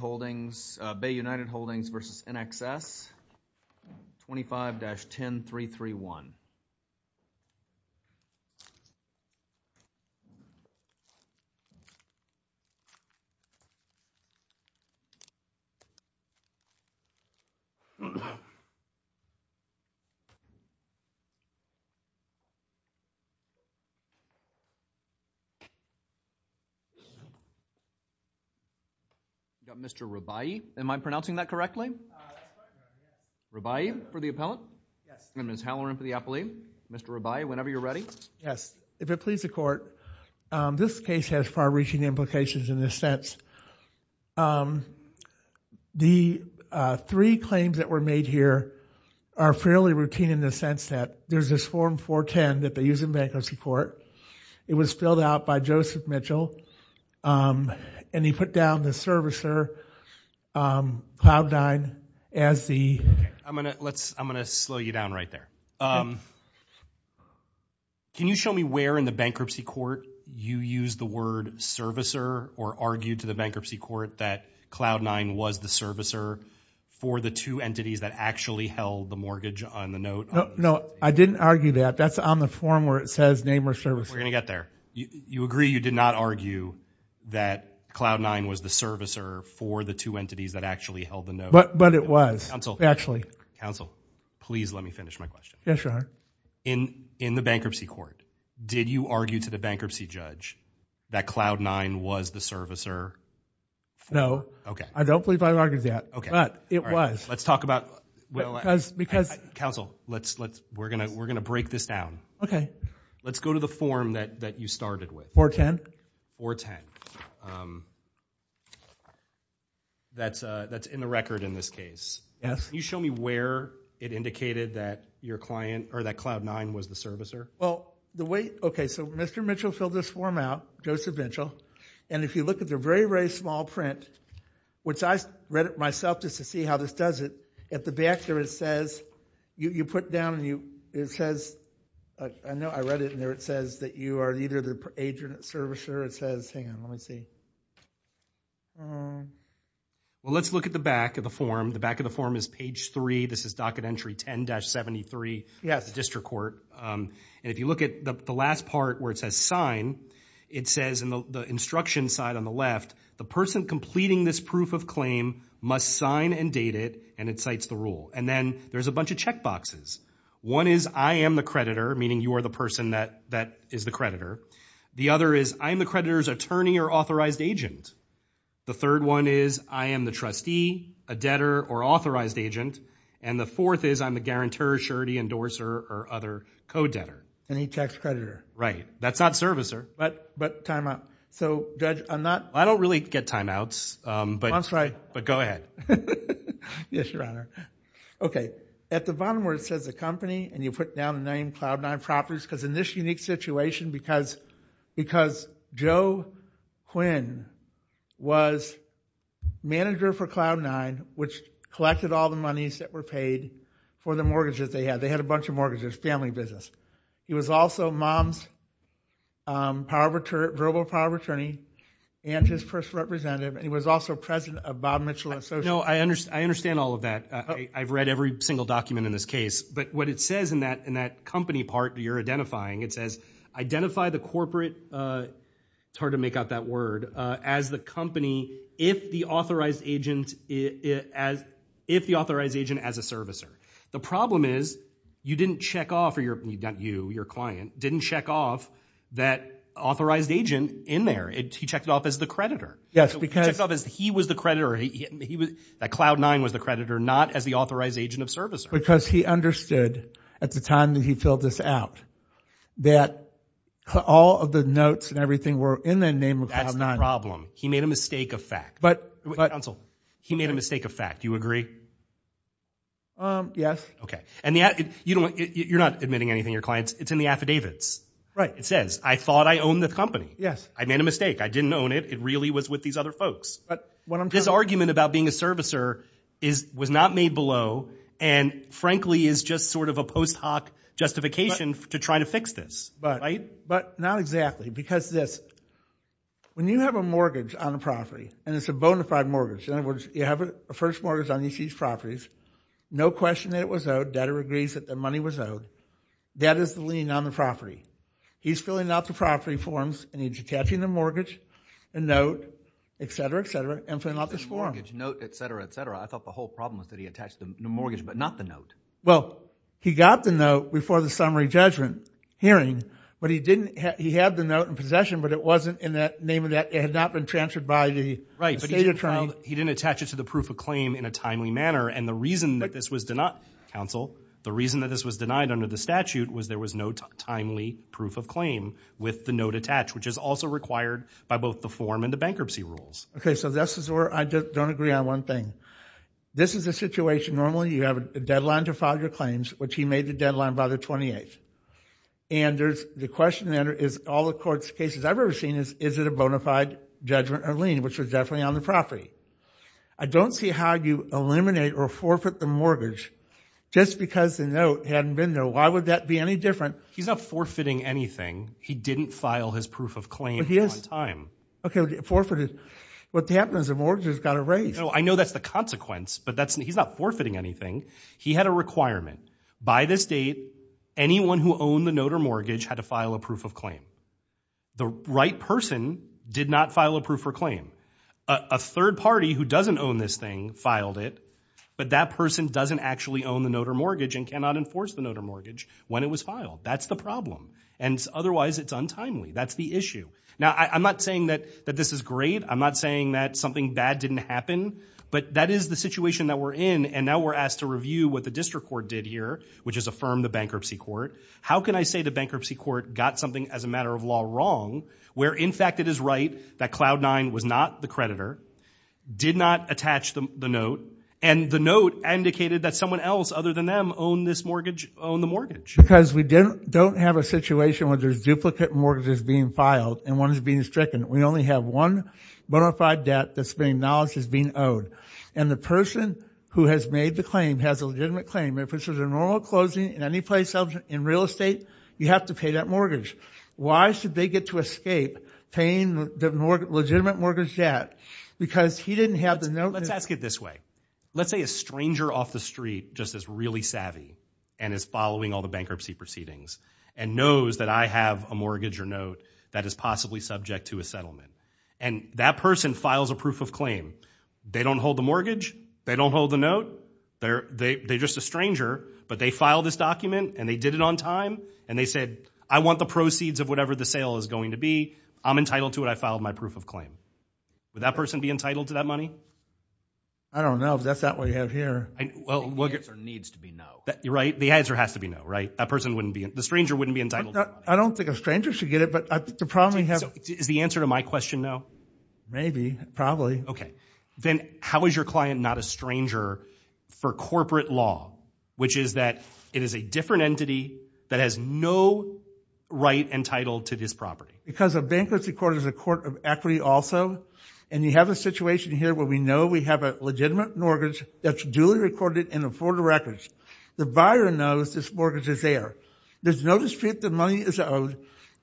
Holdings, Bay United Holdings v. INXS 25-10331. We've got Mr. Rabai. Am I pronouncing that correctly? Rabai, for the appellant, and Ms. Halloran for the appellee. Mr. Rabai, whenever you're ready. If it pleases the court, this case has far-reaching implications in this sense. The three claims that were made here are fairly routine in the sense that there's this Form 410 that they use in bankruptcy court. It was filled out by Joseph Mitchell, and he put down the servicer, Cloud Dine, as the servicer. I'm going to slow you down right there. Can you show me where in the bankruptcy court you used the word servicer or argued to the bankruptcy court that Cloud Dine was the servicer for the two entities that actually held the mortgage on the note? I didn't argue that. That's on the form where it says name or servicer. We're going to get there. You agree you did not argue that Cloud Dine was the servicer for the two entities that actually held the note? But it was. Counsel, please let me finish my question. In the bankruptcy court, did you argue to the bankruptcy judge that Cloud Dine was the servicer? No. I don't believe I argued that, but it was. Let's talk about, counsel, we're going to break this down. Let's go to the form that you started with. 410. That's in the record in this case. Yes. Can you show me where it indicated that your client, or that Cloud Dine was the servicer? Well, the way, okay, so Mr. Mitchell filled this form out, Joseph Mitchell, and if you look at the very, very small print, which I read it myself just to see how this does it, at the back there it says, you put down and it says, I know I read it in there, it says that you are either the agent or servicer. It says, hang on, let me see. Well, let's look at the back of the form. The back of the form is page three. This is docket entry 10-73, the district court, and if you look at the last part where it says sign, it says in the instruction side on the left, the person completing this proof of claim must sign and date it, and it cites the rule. And then there's a bunch of check boxes. One is, I am the creditor, meaning you are the person that is the creditor. The other is, I am the creditor's attorney or authorized agent. The third one is, I am the trustee, a debtor, or authorized agent. And the fourth is, I'm the guarantor, surety, endorser, or other co-debtor. Any tax creditor. Right. That's not servicer. But timeout. So, Judge, I'm not... I don't really get timeouts, but... That's right. But go ahead. Yes, Your Honor. Okay. At the bottom where it says the company, and you put down the name, Cloud Nine Properties, because in this unique situation, because Joe Quinn was manager for Cloud Nine, which collected all the monies that were paid for the mortgages they had. They had a bunch of mortgages. Family business. He was also Mom's verbal power of attorney and his first representative, and he was also president of Bob Mitchell Associates. No, I understand all of that. I've read every single document in this case. But what it says in that company part that you're identifying, it says, identify the corporate... it's hard to make out that word... as the company if the authorized agent as a servicer. The problem is, you didn't check off, or not you, your client, didn't check off that authorized agent in there. He checked it off as the creditor. Yes, because... He checked it off as he was the creditor, that Cloud Nine was the creditor, not as the authorized agent of servicer. Because he understood, at the time that he filled this out, that all of the notes and everything were in the name of Cloud Nine. That's not the problem. He made a mistake of fact. But... Counsel. He made a mistake of fact. Do you agree? Yes. Okay. And you're not admitting anything to your clients. It's in the affidavits. Right. It says, I thought I owned the company. Yes. I made a mistake. I didn't own it. It really was with these other folks. But what I'm trying to... His argument about being a servicer was not made below and, frankly, is just sort of a post hoc justification to try to fix this. But not exactly. Because this. When you have a mortgage on a property, and it's a bona fide mortgage, in other words, you have a first mortgage on each of these properties. No question that it was owed. Debtor agrees that the money was owed. That is the lien on the property. He's filling out the property forms and he's attaching the mortgage, the note, etc., etc. I thought the whole problem was that he attached the mortgage, but not the note. Well, he got the note before the summary judgment hearing, but he didn't... he had the note in possession, but it wasn't in that name of that... it had not been transferred by the estate attorney. But he didn't attach it to the proof of claim in a timely manner. And the reason that this was denied, counsel, the reason that this was denied under the statute was there was no timely proof of claim with the note attached, which is also required by both the form and the bankruptcy rules. Okay, so this is where I don't agree on one thing. This is a situation, normally you have a deadline to file your claims, which he made the deadline by the 28th. And there's the question that is all the court's cases I've ever seen is, is it a bona fide judgment or lien, which was definitely on the property. I don't see how you eliminate or forfeit the mortgage just because the note hadn't been there. Why would that be any different? He's not forfeiting anything. He didn't file his proof of claim on time. Okay. Forfeited. What happens if mortgages got erased? No, I know that's the consequence, but he's not forfeiting anything. He had a requirement. By this date, anyone who owned the note or mortgage had to file a proof of claim. The right person did not file a proof of claim. A third party who doesn't own this thing filed it, but that person doesn't actually own the note or mortgage and cannot enforce the note or mortgage when it was filed. That's the problem. And otherwise it's untimely. That's the issue. Now, I'm not saying that this is great. I'm not saying that something bad didn't happen, but that is the situation that we're in and now we're asked to review what the district court did here, which is affirm the bankruptcy court. How can I say the bankruptcy court got something as a matter of law wrong, where in fact it is right that Cloud9 was not the creditor, did not attach the note, and the note indicated that someone else other than them owned this mortgage, owned the mortgage. Because we don't have a situation where there's duplicate mortgages being filed and one is being stricken. We only have one bona fide debt that's being acknowledged as being owed. And the person who has made the claim has a legitimate claim. If this was a normal closing in any place in real estate, you have to pay that mortgage. Why should they get to escape paying the legitimate mortgage debt? Because he didn't have the note. Let's ask it this way. Let's say a stranger off the street just is really savvy and is following all the bankruptcy proceedings and knows that I have a mortgage or note that is possibly subject to a settlement. And that person files a proof of claim. They don't hold the mortgage, they don't hold the note, they're just a stranger, but they filed this document and they did it on time and they said, I want the proceeds of whatever the sale is going to be. I'm entitled to it. I filed my proof of claim. Would that person be entitled to that money? I don't know if that's what we have here. I think the answer needs to be no. You're right. The answer has to be no. Right? The stranger wouldn't be entitled to that money. I don't think a stranger should get it, but I think the problem we have... Is the answer to my question no? Maybe. Probably. Okay. Then how is your client not a stranger for corporate law, which is that it is a different entity that has no right entitled to this property? Because a bankruptcy court is a court of equity also. You have a situation here where we know we have a legitimate mortgage that's duly recorded and afforded records. The buyer knows this mortgage is there. There's no dispute the money is owed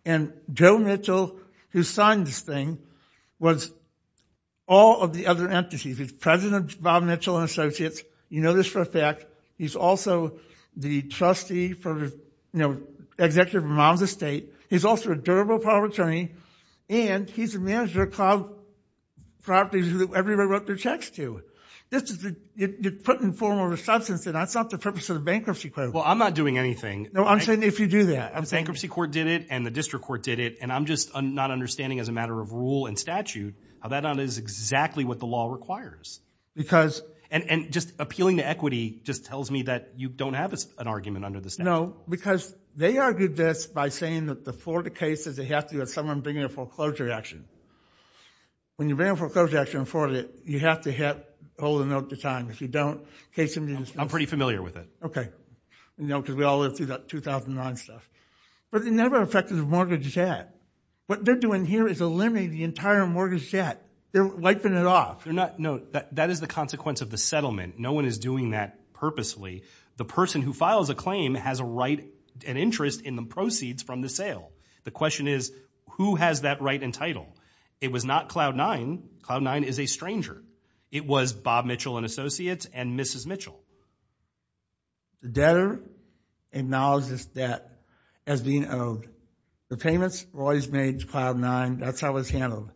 and Joe Mitchell, who signed this thing, was all of the other entities. He's president of Bob Mitchell and Associates. You know this for a fact. He's also the trustee, executive of Mom's Estate. He's also a durable property attorney, and he's a manager of cloud properties that everybody wrote their checks to. You're putting a form of a substance, and that's not the purpose of the bankruptcy court. Well, I'm not doing anything. No, I'm saying if you do that... Bankruptcy court did it, and the district court did it, and I'm just not understanding as a matter of rule and statute how that is exactly what the law requires. Because... And just appealing to equity just tells me that you don't have an argument under the statute. No, because they argued this by saying that the Florida case is they have to have someone bring in a foreclosure action. When you bring in a foreclosure action in Florida, you have to hold a note to time. If you don't, the case is... I'm pretty familiar with it. Okay. You know, because we all lived through that 2009 stuff. But it never affected the mortgage debt. What they're doing here is eliminating the entire mortgage debt. They're wiping it off. They're not... No, that is the consequence of the settlement. No one is doing that purposely. The person who files a claim has a right and interest in the proceeds from the sale. The question is, who has that right and title? It was not Cloud9. Cloud9 is a stranger. It was Bob Mitchell and Associates and Mrs. Mitchell. The debtor acknowledges this debt as being owed. The payments were always made to Cloud9. That's how it was handled.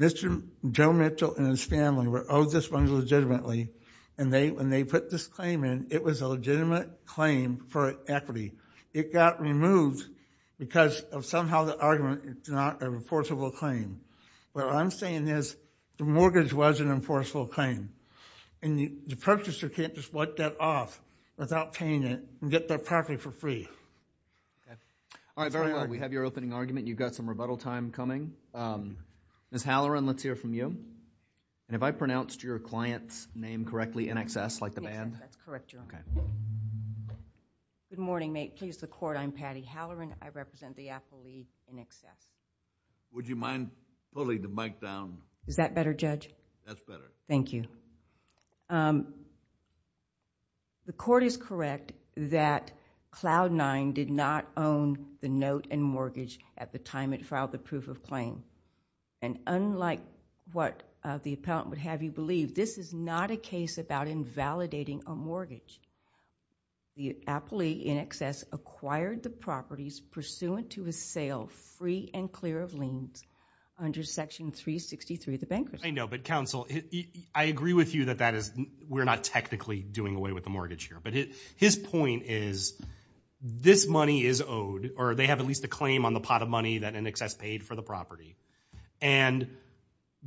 Mr. Joe Mitchell and his family were owed this one legitimately, and when they put this claim in, it was a legitimate claim for equity. It got removed because of somehow the argument it's not a reportable claim. What I'm saying is, the mortgage was an enforceable claim, and the purchaser can't just wipe that off without paying it and get that property for free. All right. Very well. We have your opening argument. You've got some rebuttal time coming. Ms. Halloran, let's hear from you. Have I pronounced your client's name correctly in excess like the band? Yes, that's correct, Your Honor. Good morning. May it please the Court. I'm Patty Halloran. I represent the affiliate in excess. Would you mind pulling the mic down? Is that better, Judge? That's better. Thank you. The Court is correct that Cloud9 did not own the note and mortgage at the time it filed the proof of claim. And unlike what the appellant would have you believe, this is not a case about invalidating a mortgage. The appellee in excess acquired the properties pursuant to his sale free and clear of liens under section 363 of the bankruptcy. I know, but counsel, I agree with you that that is, we're not technically doing away with the mortgage here. But his point is, this money is owed, or they have at least a claim on the pot of money that in excess paid for the property. And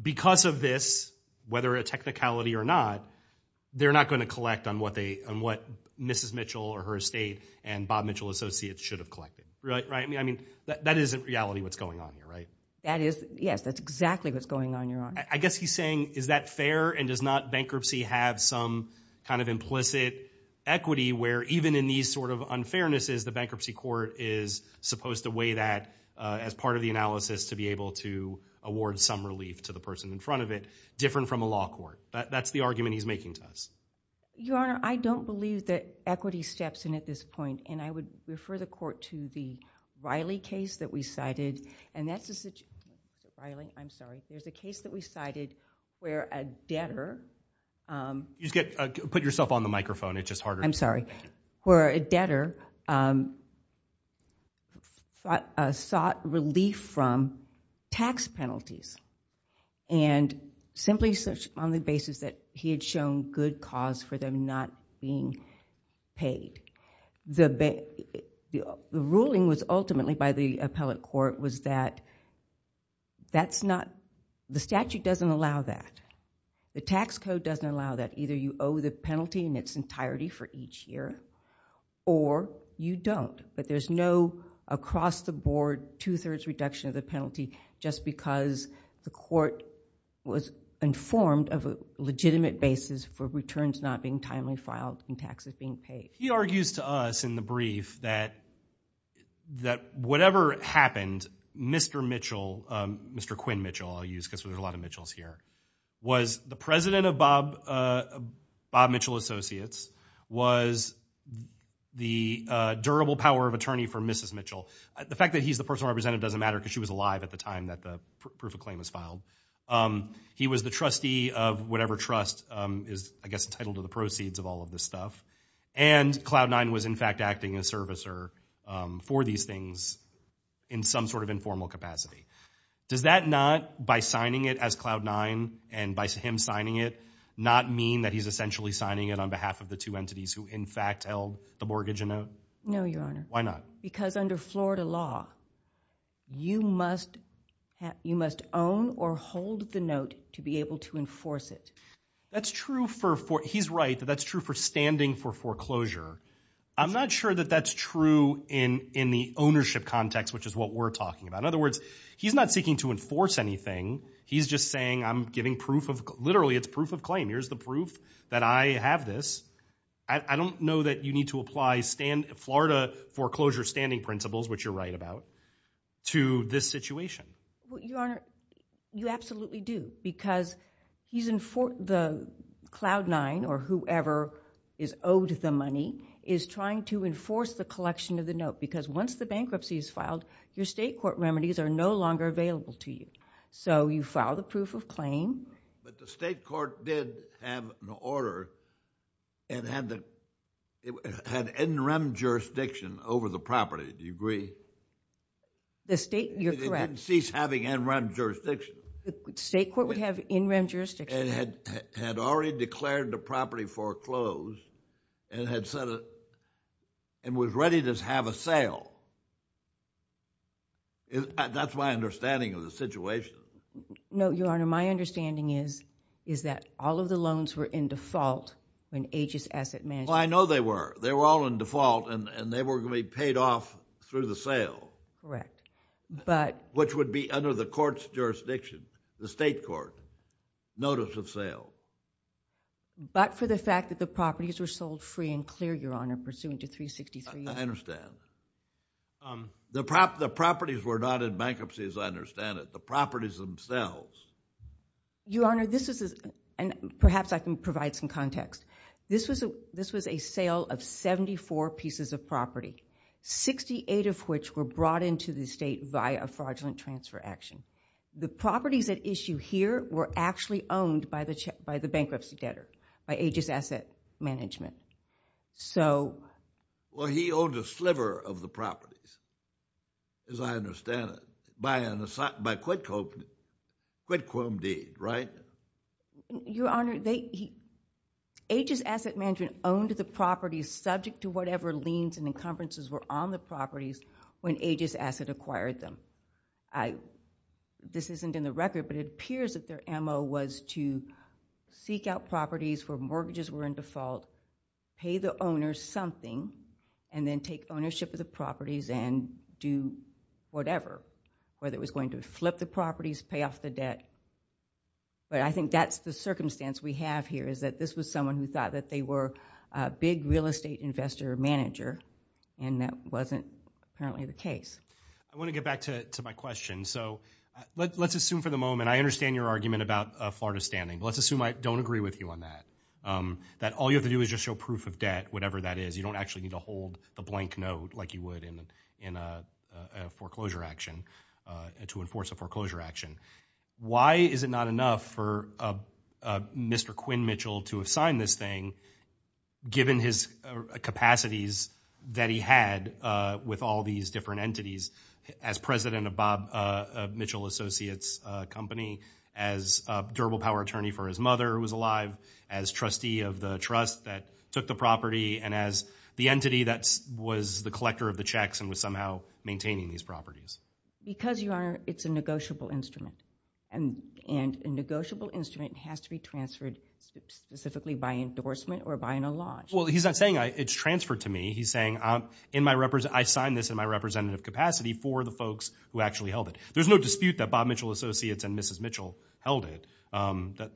because of this, whether a technicality or not, they're not going to collect on what Mrs. Mitchell or her estate and Bob Mitchell Associates should have collected. That isn't reality what's going on here, right? Yes, that's exactly what's going on, Your Honor. I guess he's saying, is that fair and does not bankruptcy have some kind of implicit equity where even in these sort of unfairnesses, the bankruptcy court is supposed to weigh that as part of the analysis to be able to award some relief to the person in front of it, different from a law court. That's the argument he's making to us. Your Honor, I don't believe that equity steps in at this point. And I would refer the court to the Riley case that we cited. And that's a, I'm sorry, there's a case that we cited where a debtor. Put yourself on the microphone. It's just harder. I'm sorry. Where a debtor sought relief from tax penalties and simply on the basis that he had shown good cause for them not being paid. The ruling was ultimately by the appellate court was that that's not, the statute doesn't allow that. The tax code doesn't allow that. Either you owe the penalty in its entirety for each year or you don't, but there's no across the board, two thirds reduction of the penalty just because the court was informed of a legitimate basis for returns not being timely filed and taxes being paid. He argues to us in the brief that, that whatever happened, Mr. Mitchell, Mr. Quinn Mitchell, I'll use because there's a lot of Mitchells here, was the president of Bob, Bob Mitchell Associates was the durable power of attorney for Mrs. Mitchell. The fact that he's the personal representative doesn't matter because she was alive at the time that the proof of claim was filed. He was the trustee of whatever trust is, I guess, entitled to the proceeds of all of this stuff. And cloud nine was in fact acting as servicer for these things in some sort of informal capacity. Does that not, by signing it as cloud nine and by him signing it, not mean that he's essentially signing it on behalf of the two entities who in fact held the mortgage in note? No, your honor. Why not? Because under Florida law, you must have, you must own or hold the note to be able to enforce it. That's true for four. He's right. That's true for standing for foreclosure. I'm not sure that that's true in, in the ownership context, which is what we're talking about. In other words, he's not seeking to enforce anything. He's just saying, I'm giving proof of literally it's proof of claim. Here's the proof that I have this. I don't know that you need to apply stand Florida foreclosure standing principles, which you're right about to this situation. Well, your honor, you absolutely do because he's in for the cloud nine or whoever is owed the money is trying to enforce the collection of the note because once the bankruptcy is filed, your state court remedies are no longer available to you. So you file the proof of claim. But the state court did have an order and had the, had NREM jurisdiction over the property. Do you agree? The state, you're correct. They didn't cease having NREM jurisdiction. The state court would have NREM jurisdiction. And had, had already declared the property foreclosed and had set it and was ready to have a sale. That's my understanding of the situation. No, your honor. My understanding is, is that all of the loans were in default when Aegis Asset Management. Well, I know they were, they were all in default and they were going to be paid off through the sale. Correct. But. Which would be under the court's jurisdiction, the state court notice of sale. But for the fact that the properties were sold free and clear, your honor, pursuant to 363. I understand. The prop, the properties were not in bankruptcy as I understand it. The properties themselves. Your honor, this is, and perhaps I can provide some context. This was a, this was a sale of 74 pieces of property, 68 of which were brought into the state by a fraudulent transfer action. The properties at issue here were actually owned by the, by the bankruptcy debtor, by Aegis Asset Management. So. Well, he owned a sliver of the properties, as I understand it, by an, by a quid quam deed, right? Your honor, they, Aegis Asset Management owned the properties subject to whatever liens and encumbrances were on the properties when Aegis Asset acquired them. This isn't in the record, but it appears that their MO was to seek out properties where mortgages were in default, pay the owner something, and then take ownership of the properties and do whatever, whether it was going to flip the properties, pay off the But I think that's the circumstance we have here, is that this was someone who thought that they were a big real estate investor or manager, and that wasn't apparently the I want to get back to, to my question. So let, let's assume for the moment, I understand your argument about Florida standing, but let's assume I don't agree with you on that. That all you have to do is just show proof of debt, whatever that is. You don't actually need to hold a blank note like you would in a foreclosure action, to enforce a foreclosure action. Why is it not enough for Mr. Quinn Mitchell to have signed this thing, given his capacities that he had with all these different entities, as president of Bob Mitchell Associates company, as a durable power attorney for his mother who was alive, as trustee of the trust that took the property, and as the entity that was the collector of the checks and was somehow maintaining these properties? Because your honor, it's a negotiable instrument, and, and a negotiable instrument has to be transferred specifically by endorsement or by an alloge. Well, he's not saying it's transferred to me. He's saying I'm, in my represent, I signed this in my representative capacity for the folks who actually held it. There's no dispute that Bob Mitchell Associates and Mrs. Mitchell held it.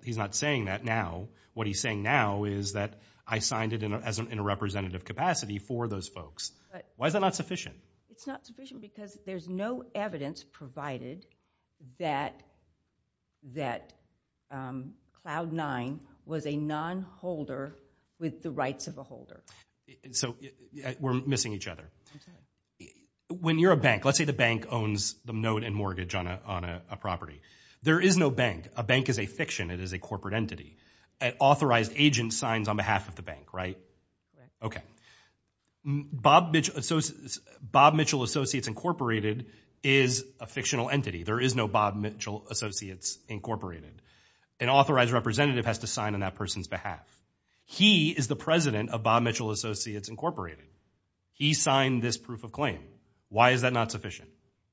He's not saying that now. What he's saying now is that I signed it in a, as a, in a representative capacity for those folks. Why is that not sufficient? It's not sufficient because there's no evidence provided that, that Cloud Nine was a non-holder with the rights of a holder. So we're missing each other. When you're a bank, let's say the bank owns the note and mortgage on a, on a property. There is no bank. A bank is a fiction. It is a corporate entity. An authorized agent signs on behalf of the bank, right? Okay. Bob Mitch, Bob Mitchell Associates Incorporated is a fictional entity. There is no Bob Mitchell Associates Incorporated. An authorized representative has to sign on that person's behalf. He is the president of Bob Mitchell Associates Incorporated. He signed this proof of claim. Why is that not sufficient?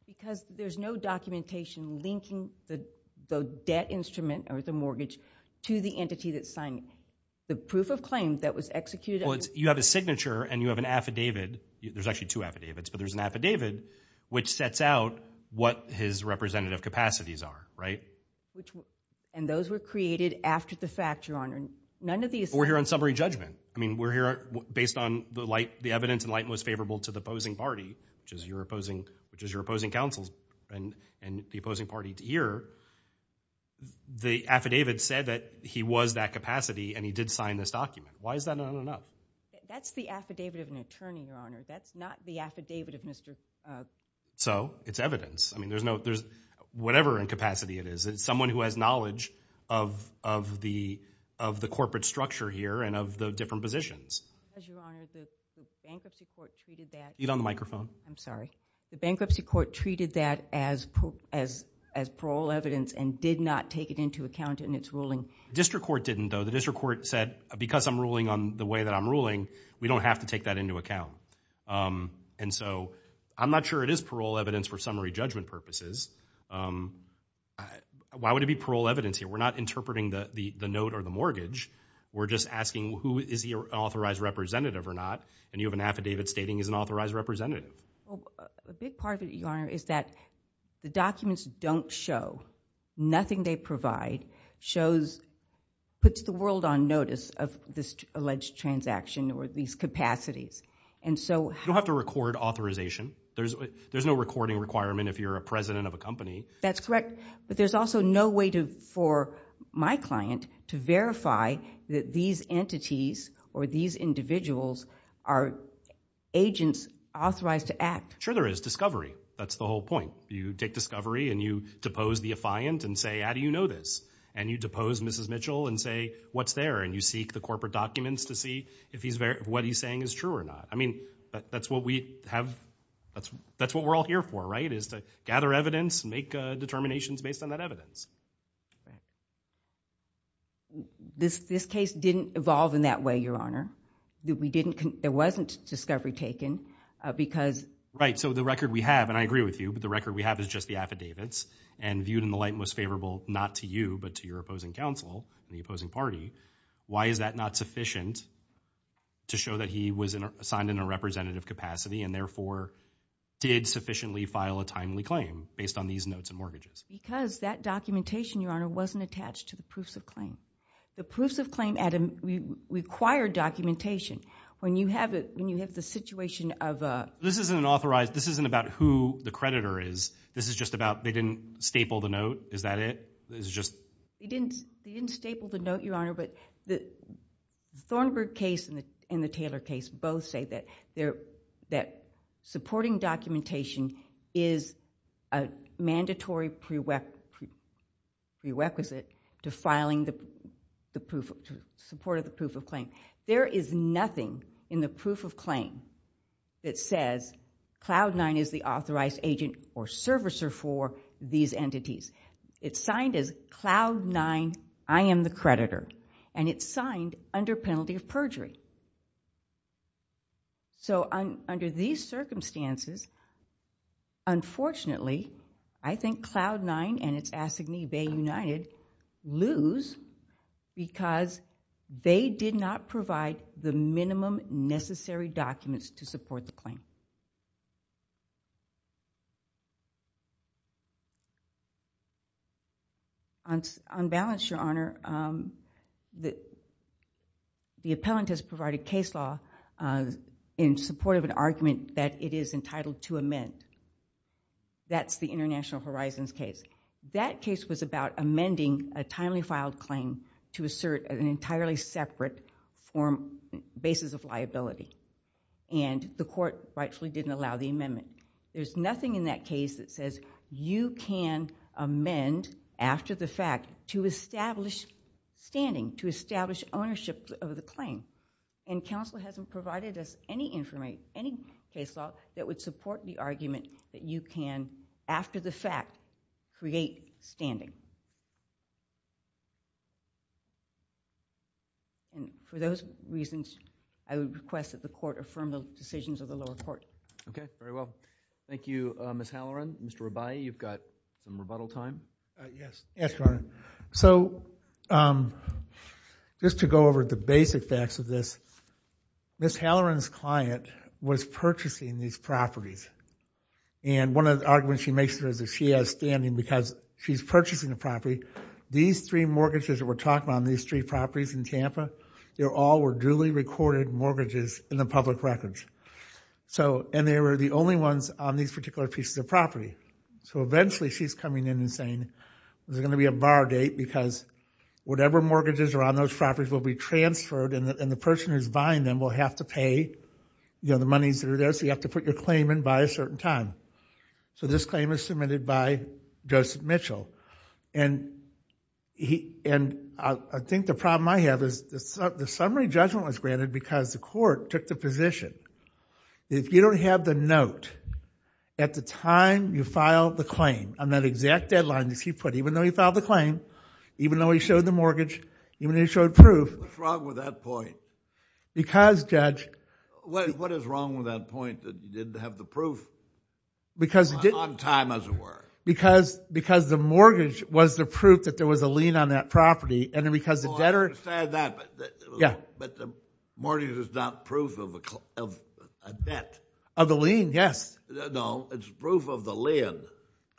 Because there's no documentation linking the, the debt instrument or the mortgage to the entity that signed it. The proof of claim that was executed. You have a signature and you have an affidavit. There's actually two affidavits, but there's an affidavit which sets out what his representative capacities are, right? And those were created after the fact, Your Honor. None of these. We're here on summary judgment. I mean, we're here based on the light, the evidence in light most favorable to the opposing party, which is your opposing, which is your opposing counsels and, and the opposing party to hear. The affidavit said that he was that capacity and he did sign this document. Why is that not enough? That's the affidavit of an attorney, Your Honor. That's not the affidavit of Mr. So it's evidence. I mean, there's no, there's whatever incapacity it is. It's someone who has knowledge of, of the, of the corporate structure here and of the different positions. As Your Honor, the bankruptcy court treated that, I'm sorry, the bankruptcy court treated that as, as, as parole evidence and did not take it into account in its ruling. District court didn't though. The district court said, because I'm ruling on the way that I'm ruling, we don't have to take that into account. And so I'm not sure it is parole evidence for summary judgment purposes. Why would it be parole evidence here? We're not interpreting the, the, the note or the mortgage. We're just asking who is the authorized representative or not, and you have an affidavit stating he's an authorized representative. Well, a big part of it, Your Honor, is that the documents don't show. Nothing they provide shows, puts the world on notice of this alleged transaction or these capacities. And so... You don't have to record authorization. There's, there's no recording requirement if you're a president of a company. That's correct. But there's also no way to, for my client to verify that these entities or these individuals are agents authorized to act. Sure there is. Discovery. That's the whole point. You take discovery and you depose the affiant and say, how do you know this? And you depose Mrs. Mitchell and say, what's there? And you seek the corporate documents to see if he's, what he's saying is true or not. I mean, that's what we have, that's, that's what we're all here for, right? Is to gather evidence and make determinations based on that evidence. This case didn't evolve in that way, Your Honor. We didn't, there wasn't discovery taken because... Right. So the record we have, and I agree with you, but the record we have is just the affidavits and viewed in the light most favorable, not to you, but to your opposing counsel, the opposing party. Why is that not sufficient to show that he was assigned in a representative capacity and therefore did sufficiently file a timely claim based on these notes and mortgages? Because that documentation, Your Honor, wasn't attached to the proofs of claim. The proofs of claim required documentation. When you have it, when you have the situation of a... This isn't an authorized, this isn't about who the creditor is. This is just about, they didn't staple the note. Is that it? This is just... They didn't staple the note, Your Honor, but the Thornburg case and the Taylor case both say that supporting documentation is a mandatory prerequisite to filing the proof, to support the proof of claim. There is nothing in the proof of claim that says, Cloud Nine is the authorized agent or servicer for these entities. It's signed as Cloud Nine, I am the creditor, and it's signed under penalty of perjury. So under these circumstances, unfortunately, I think Cloud Nine and its assignee, Bay United, lose because they did not provide the minimum necessary documents to support the claim. On balance, Your Honor, the appellant has provided case law in support of an argument that it is entitled to amend. That's the International Horizons case. That case was about amending a timely filed claim to assert an entirely separate basis of liability, and the court rightfully didn't allow the amendment. There's nothing in that case that says you can amend after the fact to establish standing, to establish ownership of the claim, and counsel hasn't provided us any information, any case law that would support the argument that you can, after the fact, create standing. For those reasons, I would request that the court affirm the decisions of the lower court. Okay, very well. Thank you, Ms. Halloran. Mr. Rabai, you've got some rebuttal time. Yes, Your Honor. So just to go over the basic facts of this, Ms. Halloran's client was purchasing these properties, and one of the arguments she makes there is that she has standing because she's purchasing the property. These three mortgages that we're talking about on these three properties in Tampa, they all were duly recorded mortgages in the public records. And they were the only ones on these particular pieces of property. So eventually, she's coming in and saying, there's going to be a bar date because whatever mortgages are on those properties will be transferred, and the person who's buying them will have to pay the monies that are there, so you have to put your claim in by a certain time. So this claim is submitted by Joseph Mitchell, and I think the problem I have is the summary judgment was granted because the court took the position that if you don't have the note at the time you filed the claim on that exact deadline that he put, even though he filed the claim, even though he showed the mortgage, even though he showed proof... What's wrong with that point? Because, Judge... What is wrong with that point that you didn't have the proof on time, as it were? Because the mortgage was the proof that there was a lien on that property, and because the debtor... Mortgage is not proof of a debt. Of the lien, yes. No, it's proof of the lien.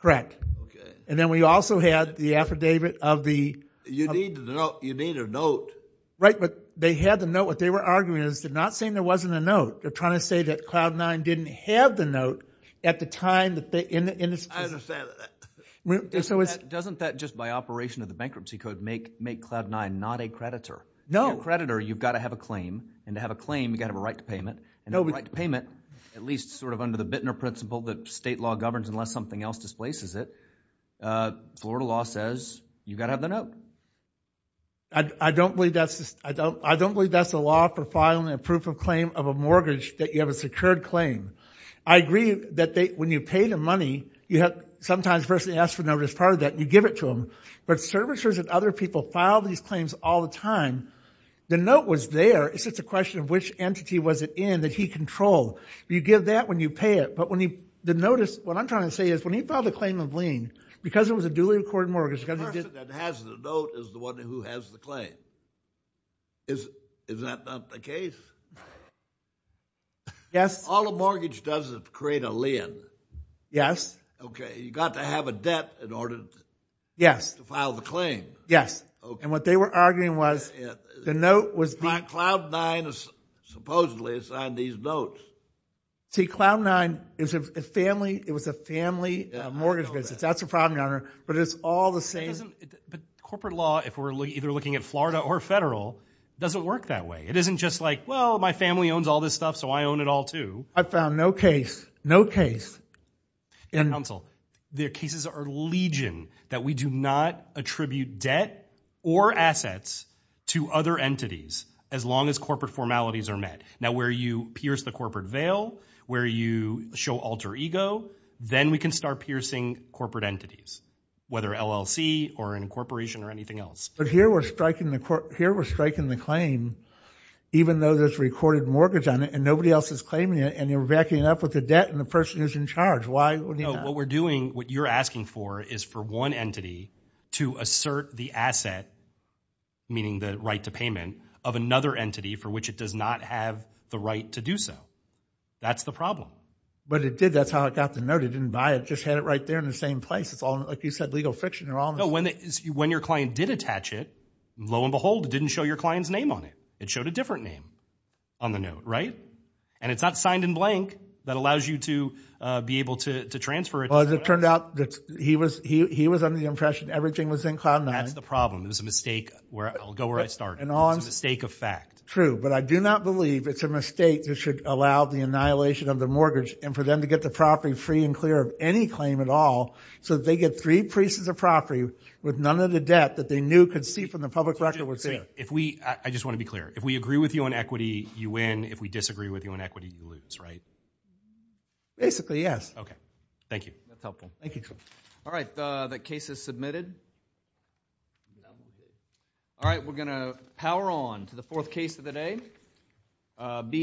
Okay. And then we also had the affidavit of the... You need a note. Right, but they had the note. What they were arguing is they're not saying there wasn't a note. They're trying to say that Cloud 9 didn't have the note at the time that they... I understand. Doesn't that, just by operation of the bankruptcy code, make Cloud 9 not a creditor? No. If it's not a creditor, you've got to have a claim, and to have a claim, you've got to have a right to payment. And a right to payment, at least sort of under the Bittner principle that state law governs unless something else displaces it, Florida law says you've got to have the note. I don't believe that's the law for filing a proof of claim of a mortgage, that you have a secured claim. I agree that when you pay the money, you have... sometimes the person asks for the notice part of that, and you give it to them. But servicers and other people file these claims all the time. The note was there. It's just a question of which entity was it in that he controlled. You give that when you pay it, but when he... the notice, what I'm trying to say is when he filed a claim of lien, because it was a duly accorded mortgage... The person that has the note is the one who has the claim. Is that not the case? Yes. All a mortgage does is create a lien. Yes. Okay. You've got to have a debt in order... Yes.... to file the claim. Yes. Okay. And what they were arguing was the note was the... Cloud 9 supposedly signed these notes. See, Cloud 9 is a family... it was a family mortgage business. That's the problem, Your Honor. But it's all the same... But corporate law, if we're either looking at Florida or federal, doesn't work that way. It isn't just like, well, my family owns all this stuff, so I own it all, too. I found no case. No case. Counsel, the cases are legion that we do not attribute debt or assets to other entities, as long as corporate formalities are met. Now, where you pierce the corporate veil, where you show alter ego, then we can start piercing corporate entities, whether LLC or an incorporation or anything else. But here we're striking the claim, even though there's a recorded mortgage on it, and nobody else is claiming it, and you're backing it up with the debt and the person who's in charge. Why would you not? No, what we're doing, what you're asking for is for one entity to assert the asset, meaning the right to payment, of another entity for which it does not have the right to do so. That's the problem. But it did. That's how it got the note. It didn't buy it. It just had it right there in the same place. It's all, like you said, legal fiction. They're all... No, when your client did attach it, lo and behold, it didn't show your client's name on it. It showed a different name on the note, right? And it's not signed in blank. That allows you to be able to transfer it. Well, as it turned out, he was under the impression everything was in cloud nine. That's the problem. It was a mistake. I'll go where I started. It was a mistake of fact. True, but I do not believe it's a mistake that should allow the annihilation of the mortgage, and for them to get the property free and clear of any claim at all, so that they get three pieces of property with none of the debt that they knew could see from the public record. I just want to be clear. If we agree with you on equity, you win. If we disagree with you on equity, you lose, right? Basically, yes. Okay. Thank you. Thank you. All right. The case is submitted. All right. We're going to power on to the fourth case of the day.